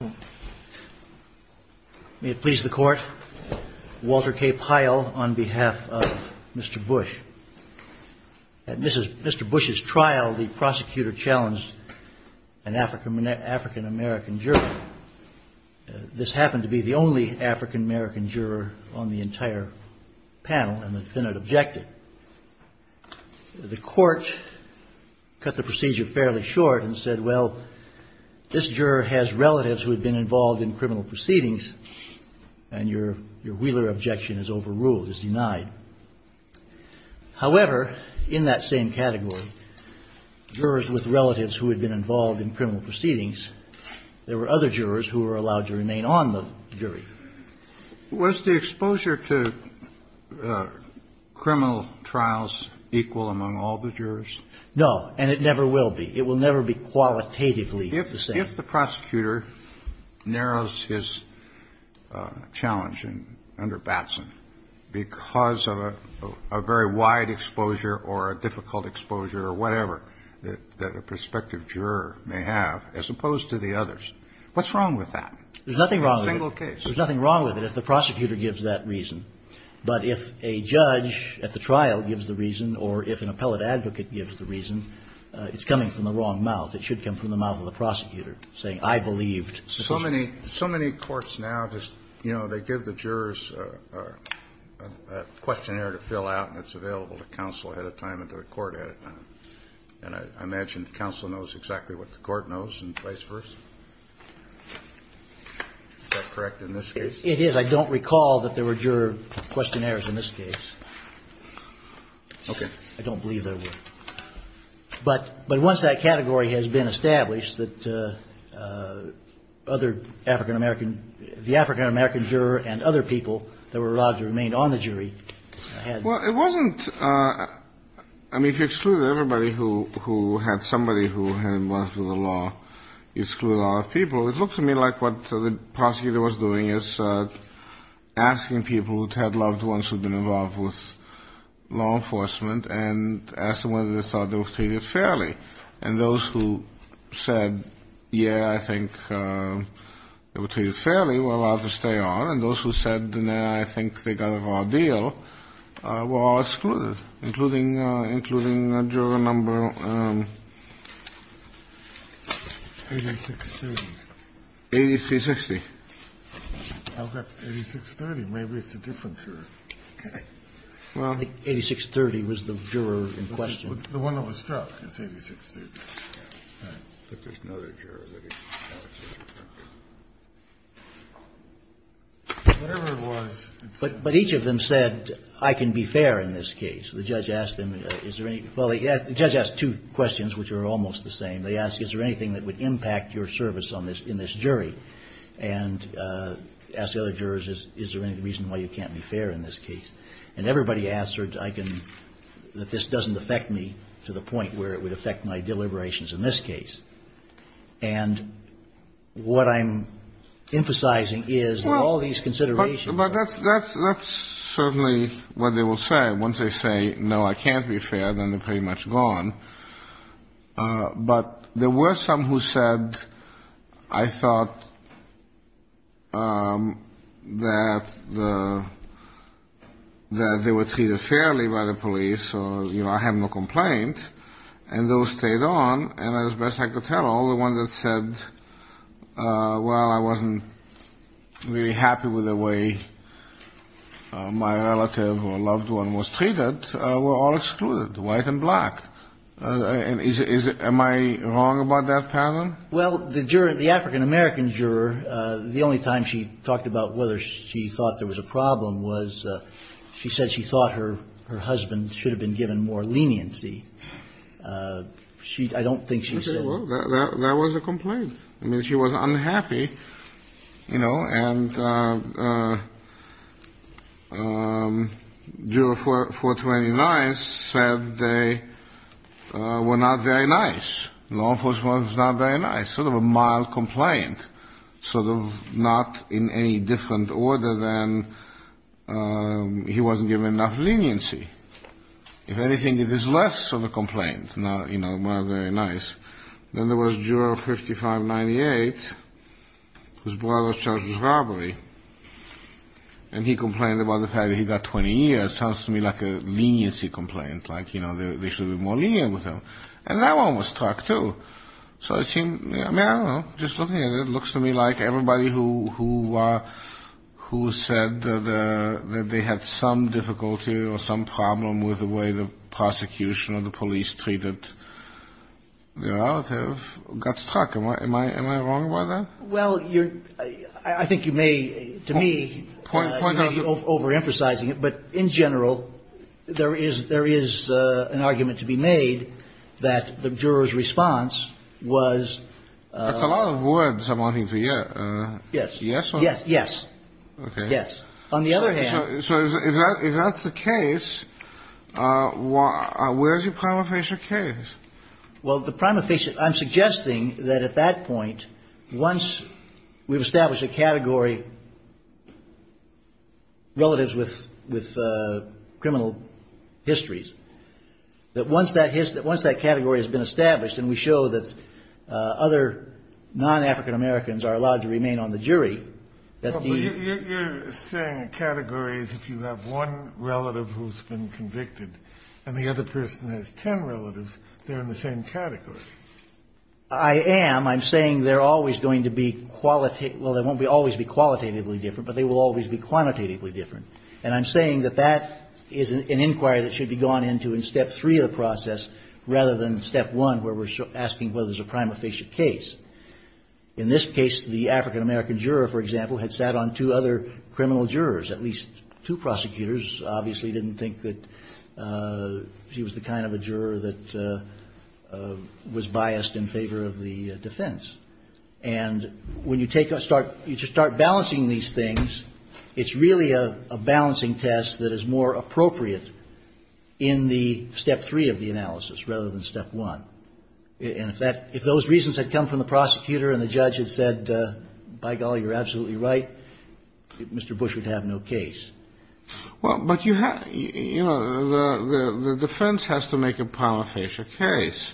May it please the Court, Walter K. Pyle on behalf of Mr. Bush. At Mr. Bush's trial, the prosecutor challenged an African-American juror. This happened to be the only African-American juror on the entire panel, and the defendant objected. The Court cut the procedure fairly short and said, well, this juror has relatives who had been involved in criminal proceedings, and your Wheeler objection is overruled, is denied. However, in that same category, jurors with relatives who had been involved in criminal proceedings, there were other jurors who were allowed to remain on the jury. Was the exposure to criminal trials equal among all the jurors? No, and it never will be. It will never be qualitatively the same. If the prosecutor narrows his challenge under Batson because of a very wide exposure or a difficult exposure or whatever that a prospective juror may have, as opposed to the others, what's wrong with that? There's nothing wrong with it. In a single case. There's nothing wrong with it if the prosecutor gives that reason, but if a judge at the trial gives the reason or if an appellate advocate gives the reason, it's coming from the wrong mouth. It should come from the mouth of the prosecutor, saying, I believed. So many courts now just, you know, they give the jurors a questionnaire to fill out, and it's available to counsel ahead of time and to the court ahead of time, and I imagine counsel knows exactly what the court knows and vice versa. Is that correct in this case? It is. I don't recall that there were juror questionnaires in this case. Okay. I don't believe there were. But once that category has been established, that other African-American the African-American juror and other people that were allowed to remain on the jury had Well, it wasn't. I mean, if you exclude everybody who had somebody who had been involved with the law, you exclude a lot of people. It looked to me like what the prosecutor was doing is asking people who had loved ones who had been involved with law enforcement and asked them whether they thought they were treated fairly. And those who said, yeah, I think they were treated fairly were allowed to stay on, and those who said, no, I think they got a fair deal were excluded, including a juror number 8630. 8360. I've got 8630. Maybe it's a different juror. Okay. Well. I think 8630 was the juror in question. The one that was struck. It's 8630. All right. But there's another juror. Whatever it was. But each of them said, I can be fair in this case. The judge asked them, is there any, well, the judge asked two questions, which are almost the same. They asked, is there anything that would impact your service on this, in this jury? And asked the other jurors, is there any reason why you can't be fair in this case? And everybody answered, I can, that this doesn't affect me to the point where it would affect my deliberations in this case. And what I'm emphasizing is that all of these considerations. But that's certainly what they will say. Once they say, no, I can't be fair, then they're pretty much gone. But there were some who said, I thought that the, that they were treated fairly by the police. Or, you know, I have no complaint. And those stayed on. And as best I could tell, all the ones that said, well, I wasn't really happy with the way my relative or loved one was treated, were all excluded. White and black. And is, am I wrong about that pattern? Well, the juror, the African-American juror, the only time she talked about whether she thought there was a problem was, she said she thought her husband should have been given more leniency. She, I don't think she said. Okay. Well, that was a complaint. I mean, she was unhappy, you know, and juror 429 said they were not very nice. Law enforcement was not very nice. Sort of a mild complaint. Sort of not in any different order than he wasn't given enough leniency. If anything, it is less of a complaint. Not, you know, not very nice. Then there was juror 5598, whose brother charges robbery. And he complained about the fact that he got 20 years. Sounds to me like a leniency complaint. Like, you know, they should be more lenient with him. And that one was struck, too. So it seemed, I mean, I don't know, just looking at it, it looks to me like everybody who, who said that they had some difficulty or some problem with the way the prosecution or the police treated their relative got struck. Am I wrong about that? Well, you're, I think you may, to me, you may be overemphasizing it, but in general, there is an argument to be made that the juror's response was. That's a lot of words I'm wanting to hear. Yes. Yes. Yes. Yes. On the other hand. So if that's the case, where's your prima facie case? Well, the prima facie, I'm suggesting that at that point, once we've established a category, relatives with criminal histories, that once that category has been established and we show that other non-African Americans are allowed to remain on the jury, that the. Well, but you're saying a category is if you have one relative who's been convicted and the other person has ten relatives, they're in the same category. I am. I'm saying they're always going to be, well, they won't always be qualitatively different, but they will always be quantitatively different. And I'm saying that that is an inquiry that should be gone into in step three of the process rather than step one, where we're asking whether there's a prima facie case. In this case, the African American juror, for example, had sat on two other criminal jurors, at least two prosecutors obviously didn't think that he was the kind of a juror that was biased in favor of the defense. And when you take a start, you just start balancing these things. It's really a balancing test that is more appropriate in the step three of the analysis rather than step one. And if that, if those reasons had come from the prosecutor and the judge had said, by golly, you're absolutely right, Mr. Bush would have no case. Well, but you have, you know, the defense has to make a prima facie case.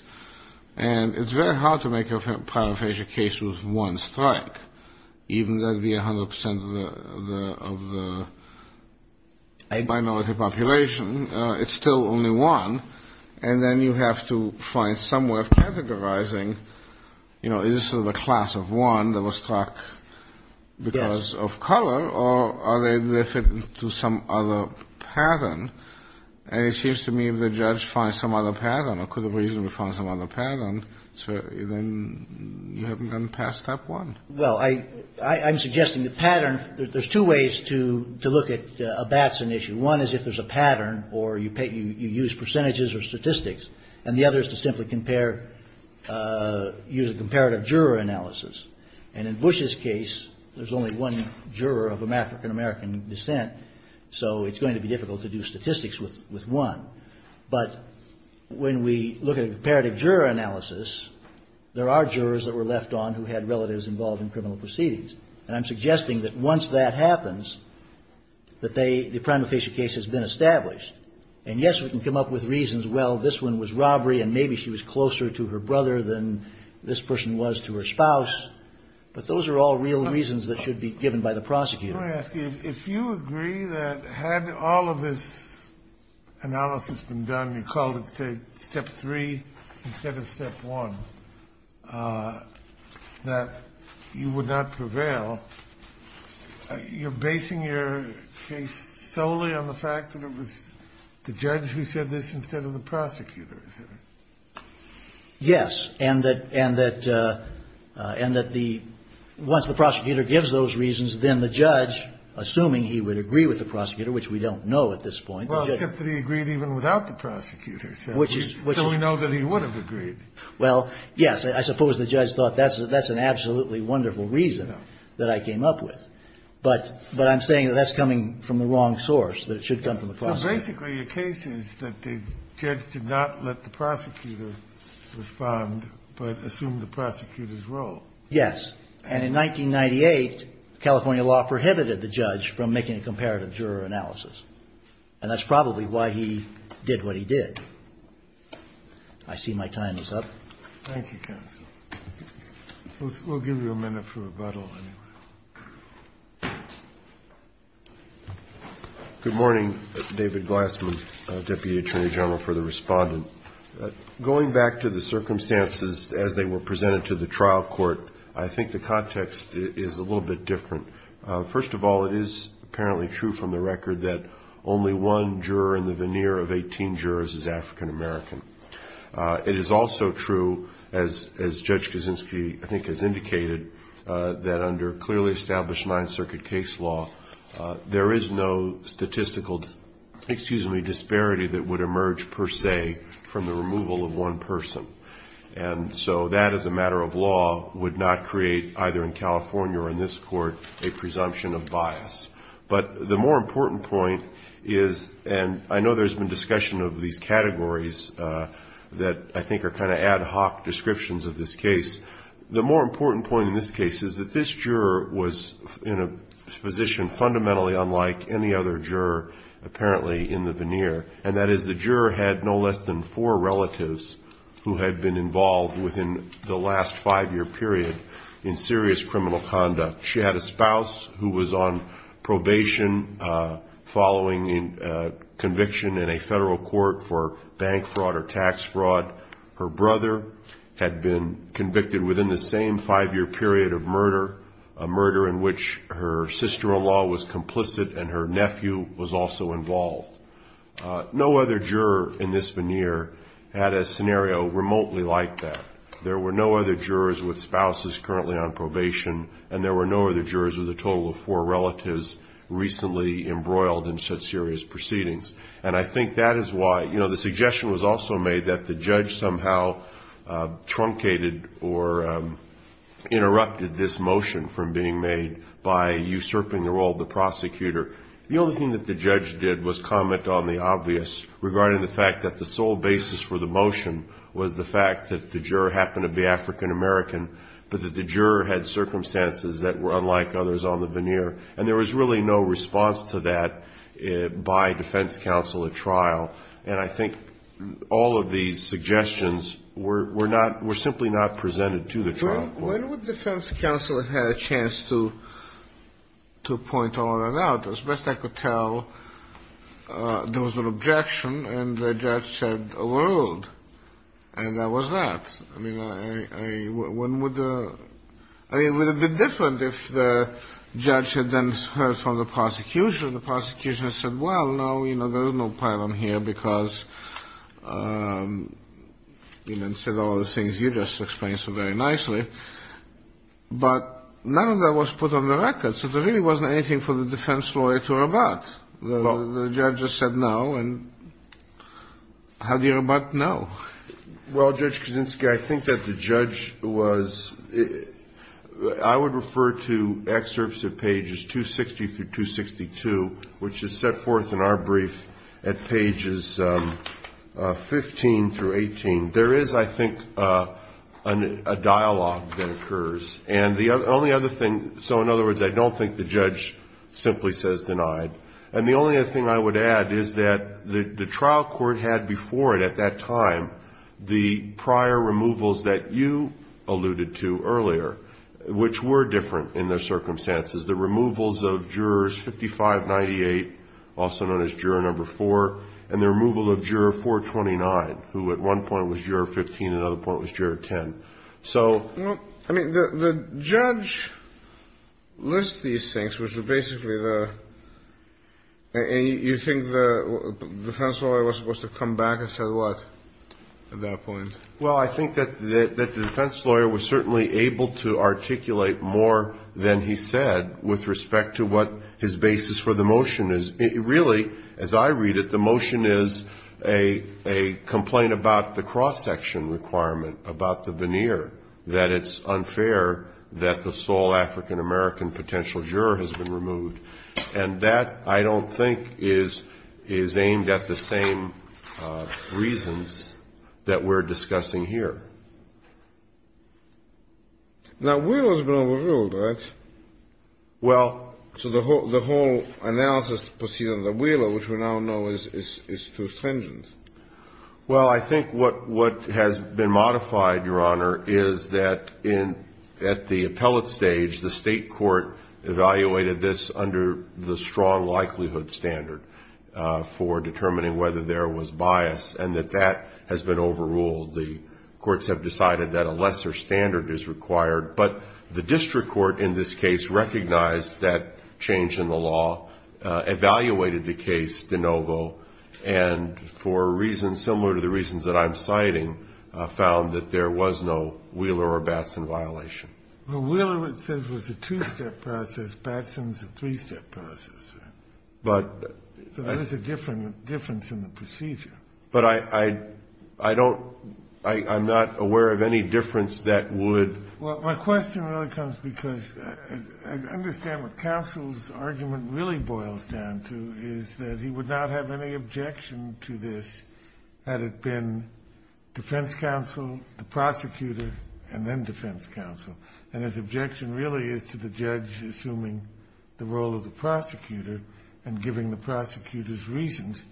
And it's very hard to make a prima facie case with one strike, even though it would be 100 percent of the minority population. It's still only one. And then you have to find some way of categorizing, you know, is this a class of one that was struck because of color, or are they related to some other pattern? And it seems to me if the judge finds some other pattern, or could have reasonably found some other pattern, then you haven't gone past step one. Well, I'm suggesting the pattern, there's two ways to look at a Batson issue. One is if there's a pattern or you use percentages or statistics. And the other is to simply compare, use a comparative juror analysis. And in Bush's case, there's only one juror of African-American descent, so it's going to be difficult to do statistics with one. But when we look at a comparative juror analysis, there are jurors that were left on who had relatives involved in criminal proceedings. And I'm suggesting that once that happens, that the prima facie case has been established. And yes, we can come up with reasons, well, this one was robbery, and maybe she was closer to her brother than this person was to her spouse. But those are all real reasons that should be given by the prosecutor. Let me ask you, if you agree that had all of this analysis been done, and you called it step three instead of step one, that you would not prevail, you're basing your case solely on the fact that it was the judge who said this instead of the prosecutor? Yes. And that once the prosecutor gives those reasons, then the judge, assuming he would agree with the prosecutor, which we don't know at this point. Well, except that he agreed even without the prosecutor, so we know that he would have agreed. Well, yes. I suppose the judge thought that's an absolutely wonderful reason that I came up with. But I'm saying that that's coming from the wrong source, that it should come from the prosecutor. Basically, your case is that the judge did not let the prosecutor respond, but assumed the prosecutor's role. Yes. And in 1998, California law prohibited the judge from making a comparative juror analysis. And that's probably why he did what he did. I see my time is up. Thank you, counsel. We'll give you a minute for rebuttal. Good morning. David Glassman, Deputy Attorney General for the Respondent. Going back to the circumstances as they were presented to the trial court, I think the context is a little bit different. First of all, it is apparently true from the record that only one juror in the veneer of 18 jurors is African American. It is also true, as Judge Kaczynski, I think, has indicated, that under clearly established Ninth Circuit case law, there is no statistical, excuse me, disparity that would emerge per se from the removal of one person. And so that, as a matter of law, would not create, either in California or in this Court, a presumption of bias. But the more important point is, and I know there's been discussion of these categories that I think are kind of ad hoc descriptions of this case. The more important point in this case is that this juror was in a position fundamentally unlike any other juror, apparently in the veneer, and that is the juror had no less than four relatives who had been involved within the last five-year period in serious criminal conduct. She had a spouse who was on probation following conviction in a federal court for bank fraud or tax fraud. Her brother had been convicted within the same five-year period of murder, a murder in which her sister-in-law was complicit and her nephew was also involved. No other juror in this veneer had a scenario remotely like that. There were no other jurors with spouses currently on probation, and there were no other jurors with a total of four relatives recently embroiled in such serious proceedings. And I think that is why, you know, the suggestion was also made that the judge somehow truncated or interrupted this motion from being made by usurping the role of the prosecutor. The only thing that the judge did was comment on the obvious regarding the fact that the sole basis for the motion was the fact that the juror happened to be African American, but that the juror had circumstances that were unlike others on the veneer. And there was really no response to that by defense counsel at trial. And I think all of these suggestions were simply not presented to the trial court. When would defense counsel have had a chance to point all of that out? As best I could tell, there was an objection, and the judge said, a world, and that was that. I mean, would it be different if the judge had then heard from the prosecution, and said, well, no, you know, there's no problem here because, you know, instead of all the things you just explained so very nicely. But none of that was put on the record, so there really wasn't anything for the defense lawyer to rebut. The judge just said no, and how do you rebut no? Well, Judge Kaczynski, I think that the judge was, I would refer to excerpts of pages 260 through 262, which is set forth in our brief at pages 15 through 18. There is, I think, a dialogue that occurs. And the only other thing, so in other words, I don't think the judge simply says denied. And the only other thing I would add is that the trial court had before it at that time the prior removals that you alluded to earlier, which were different in their circumstances. The removals of jurors 5598, also known as juror number 4, and the removal of juror 429, who at one point was juror 15, and at another point was juror 10. I mean, the judge lists these things, which are basically the, and you think the defense lawyer was supposed to come back and say what at that point? Well, I think that the defense lawyer was certainly able to articulate more than he said with respect to what his basis for the motion is. Really, as I read it, the motion is a complaint about the cross-section requirement, about the veneer, that it's unfair that the sole African-American potential juror has been removed. And that, I don't think, is aimed at the same reasons that we're discussing here. Now, Wheeler's been overruled, right? Well... So the whole analysis proceeding under Wheeler, which we now know is too stringent. Well, I think what has been modified, Your Honor, is that at the appellate stage, the State Court evaluated this under the strong likelihood standard for determining whether there was bias, and that that has been overruled. The courts have decided that a lesser standard is required. But the district court in this case recognized that change in the law, evaluated the case de novo, and for reasons similar to the reasons that I'm citing, found that there was no Wheeler or Batson violation. Well, Wheeler, it says, was a two-step process. Batson's a three-step process. So there's a difference in the procedure. But I don't – I'm not aware of any difference that would... Well, my question really comes because I understand what counsel's argument really boils down to is that he would not have any objection to this had it been defense counsel, the prosecutor, and then defense counsel. And his objection really is to the judge assuming the role of the prosecutor and giving the prosecutor's reasons,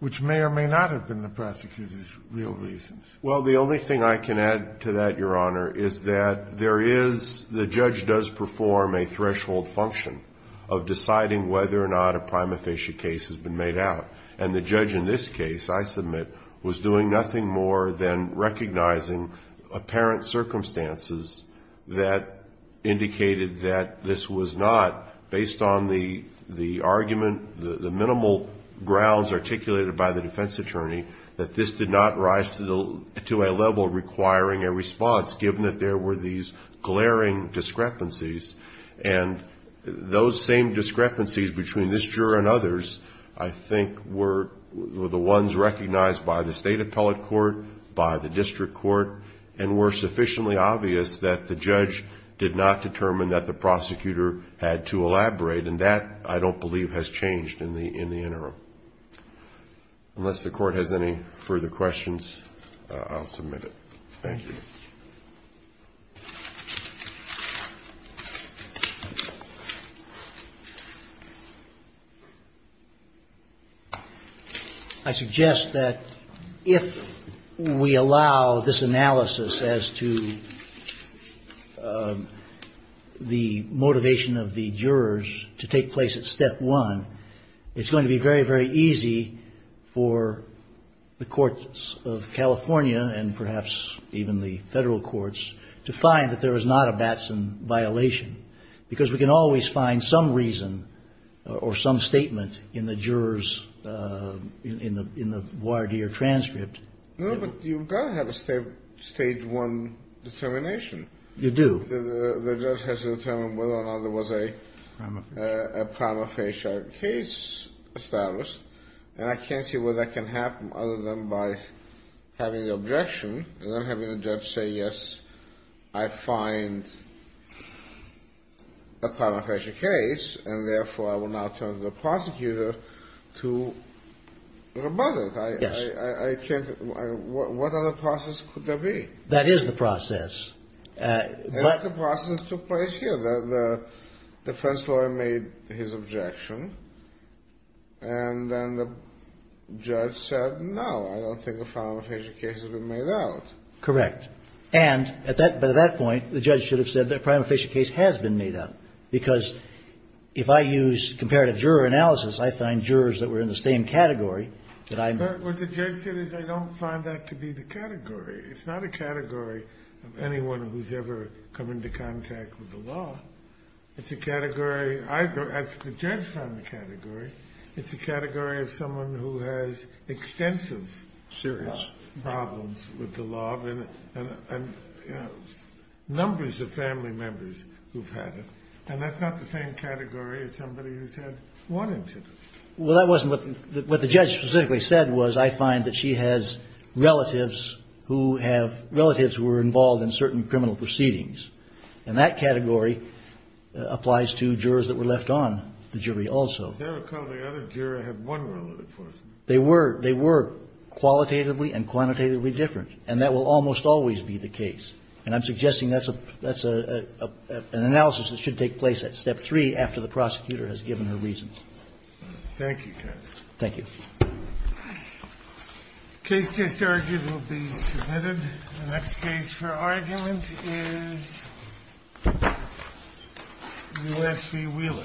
which may or may not have been the prosecutor's real reasons. Well, the only thing I can add to that, Your Honor, is that there is the judge does perform a threshold function of deciding whether or not a prima facie case has been made out. And the judge in this case, I submit, was doing nothing more than recognizing apparent circumstances that indicated that this was not, based on the argument, the minimal grounds articulated by the defense attorney, that this did not rise to a level requiring a response given that there were these glaring discrepancies. And those same discrepancies between this juror and others, I think, were the ones recognized by the state appellate court, by the district court, and were sufficiently obvious that the judge did not determine that the prosecutor had to elaborate. And that, I don't believe, has changed in the interim. Unless the Court has any further questions, I'll submit it. Thank you. I suggest that if we allow this analysis as to the motivation of the jurors to take place at step one, it's going to be very, very easy for the courts to find that there is not a Batson violation, because we can always find some reason or some statement in the juror's, in the voir dire transcript. No, but you've got to have a stage one determination. You do. The judge has to determine whether or not there was a prima facie case established. And I can't see where that can happen other than by having the objection and then having the judge say, yes, I find a prima facie case, and therefore I will now turn to the prosecutor to rebut it. Yes. I can't. What other process could there be? That is the process. That's the process that took place here. The defense lawyer made his objection, and then the judge said, no, I don't think a prima facie case has been made out. Correct. But at that point, the judge should have said that a prima facie case has been made out, because if I use comparative juror analysis, I find jurors that were in the same category that I'm in. But what the judge said is I don't find that to be the category. It's not a category of anyone who's ever come into contact with the law. It's a category, as the judge found the category, it's a category of someone who has extensive serious problems with the law, and numbers of family members who've had it. And that's not the same category as somebody who's had one incident. Well, that wasn't what the judge specifically said was I find that she has relatives who have relatives who were involved in certain criminal proceedings. And that category applies to jurors that were left on the jury also. Was there a couple of other jurors that had one relative person? They were. They were qualitatively and quantitatively different. And that will almost always be the case. And I'm suggesting that's an analysis that should take place at Step 3 after the prosecutor has given her reasons. Thank you, counsel. Thank you. The case just argued will be submitted. The next case for argument is U.S. v. Wheeler. Thank you.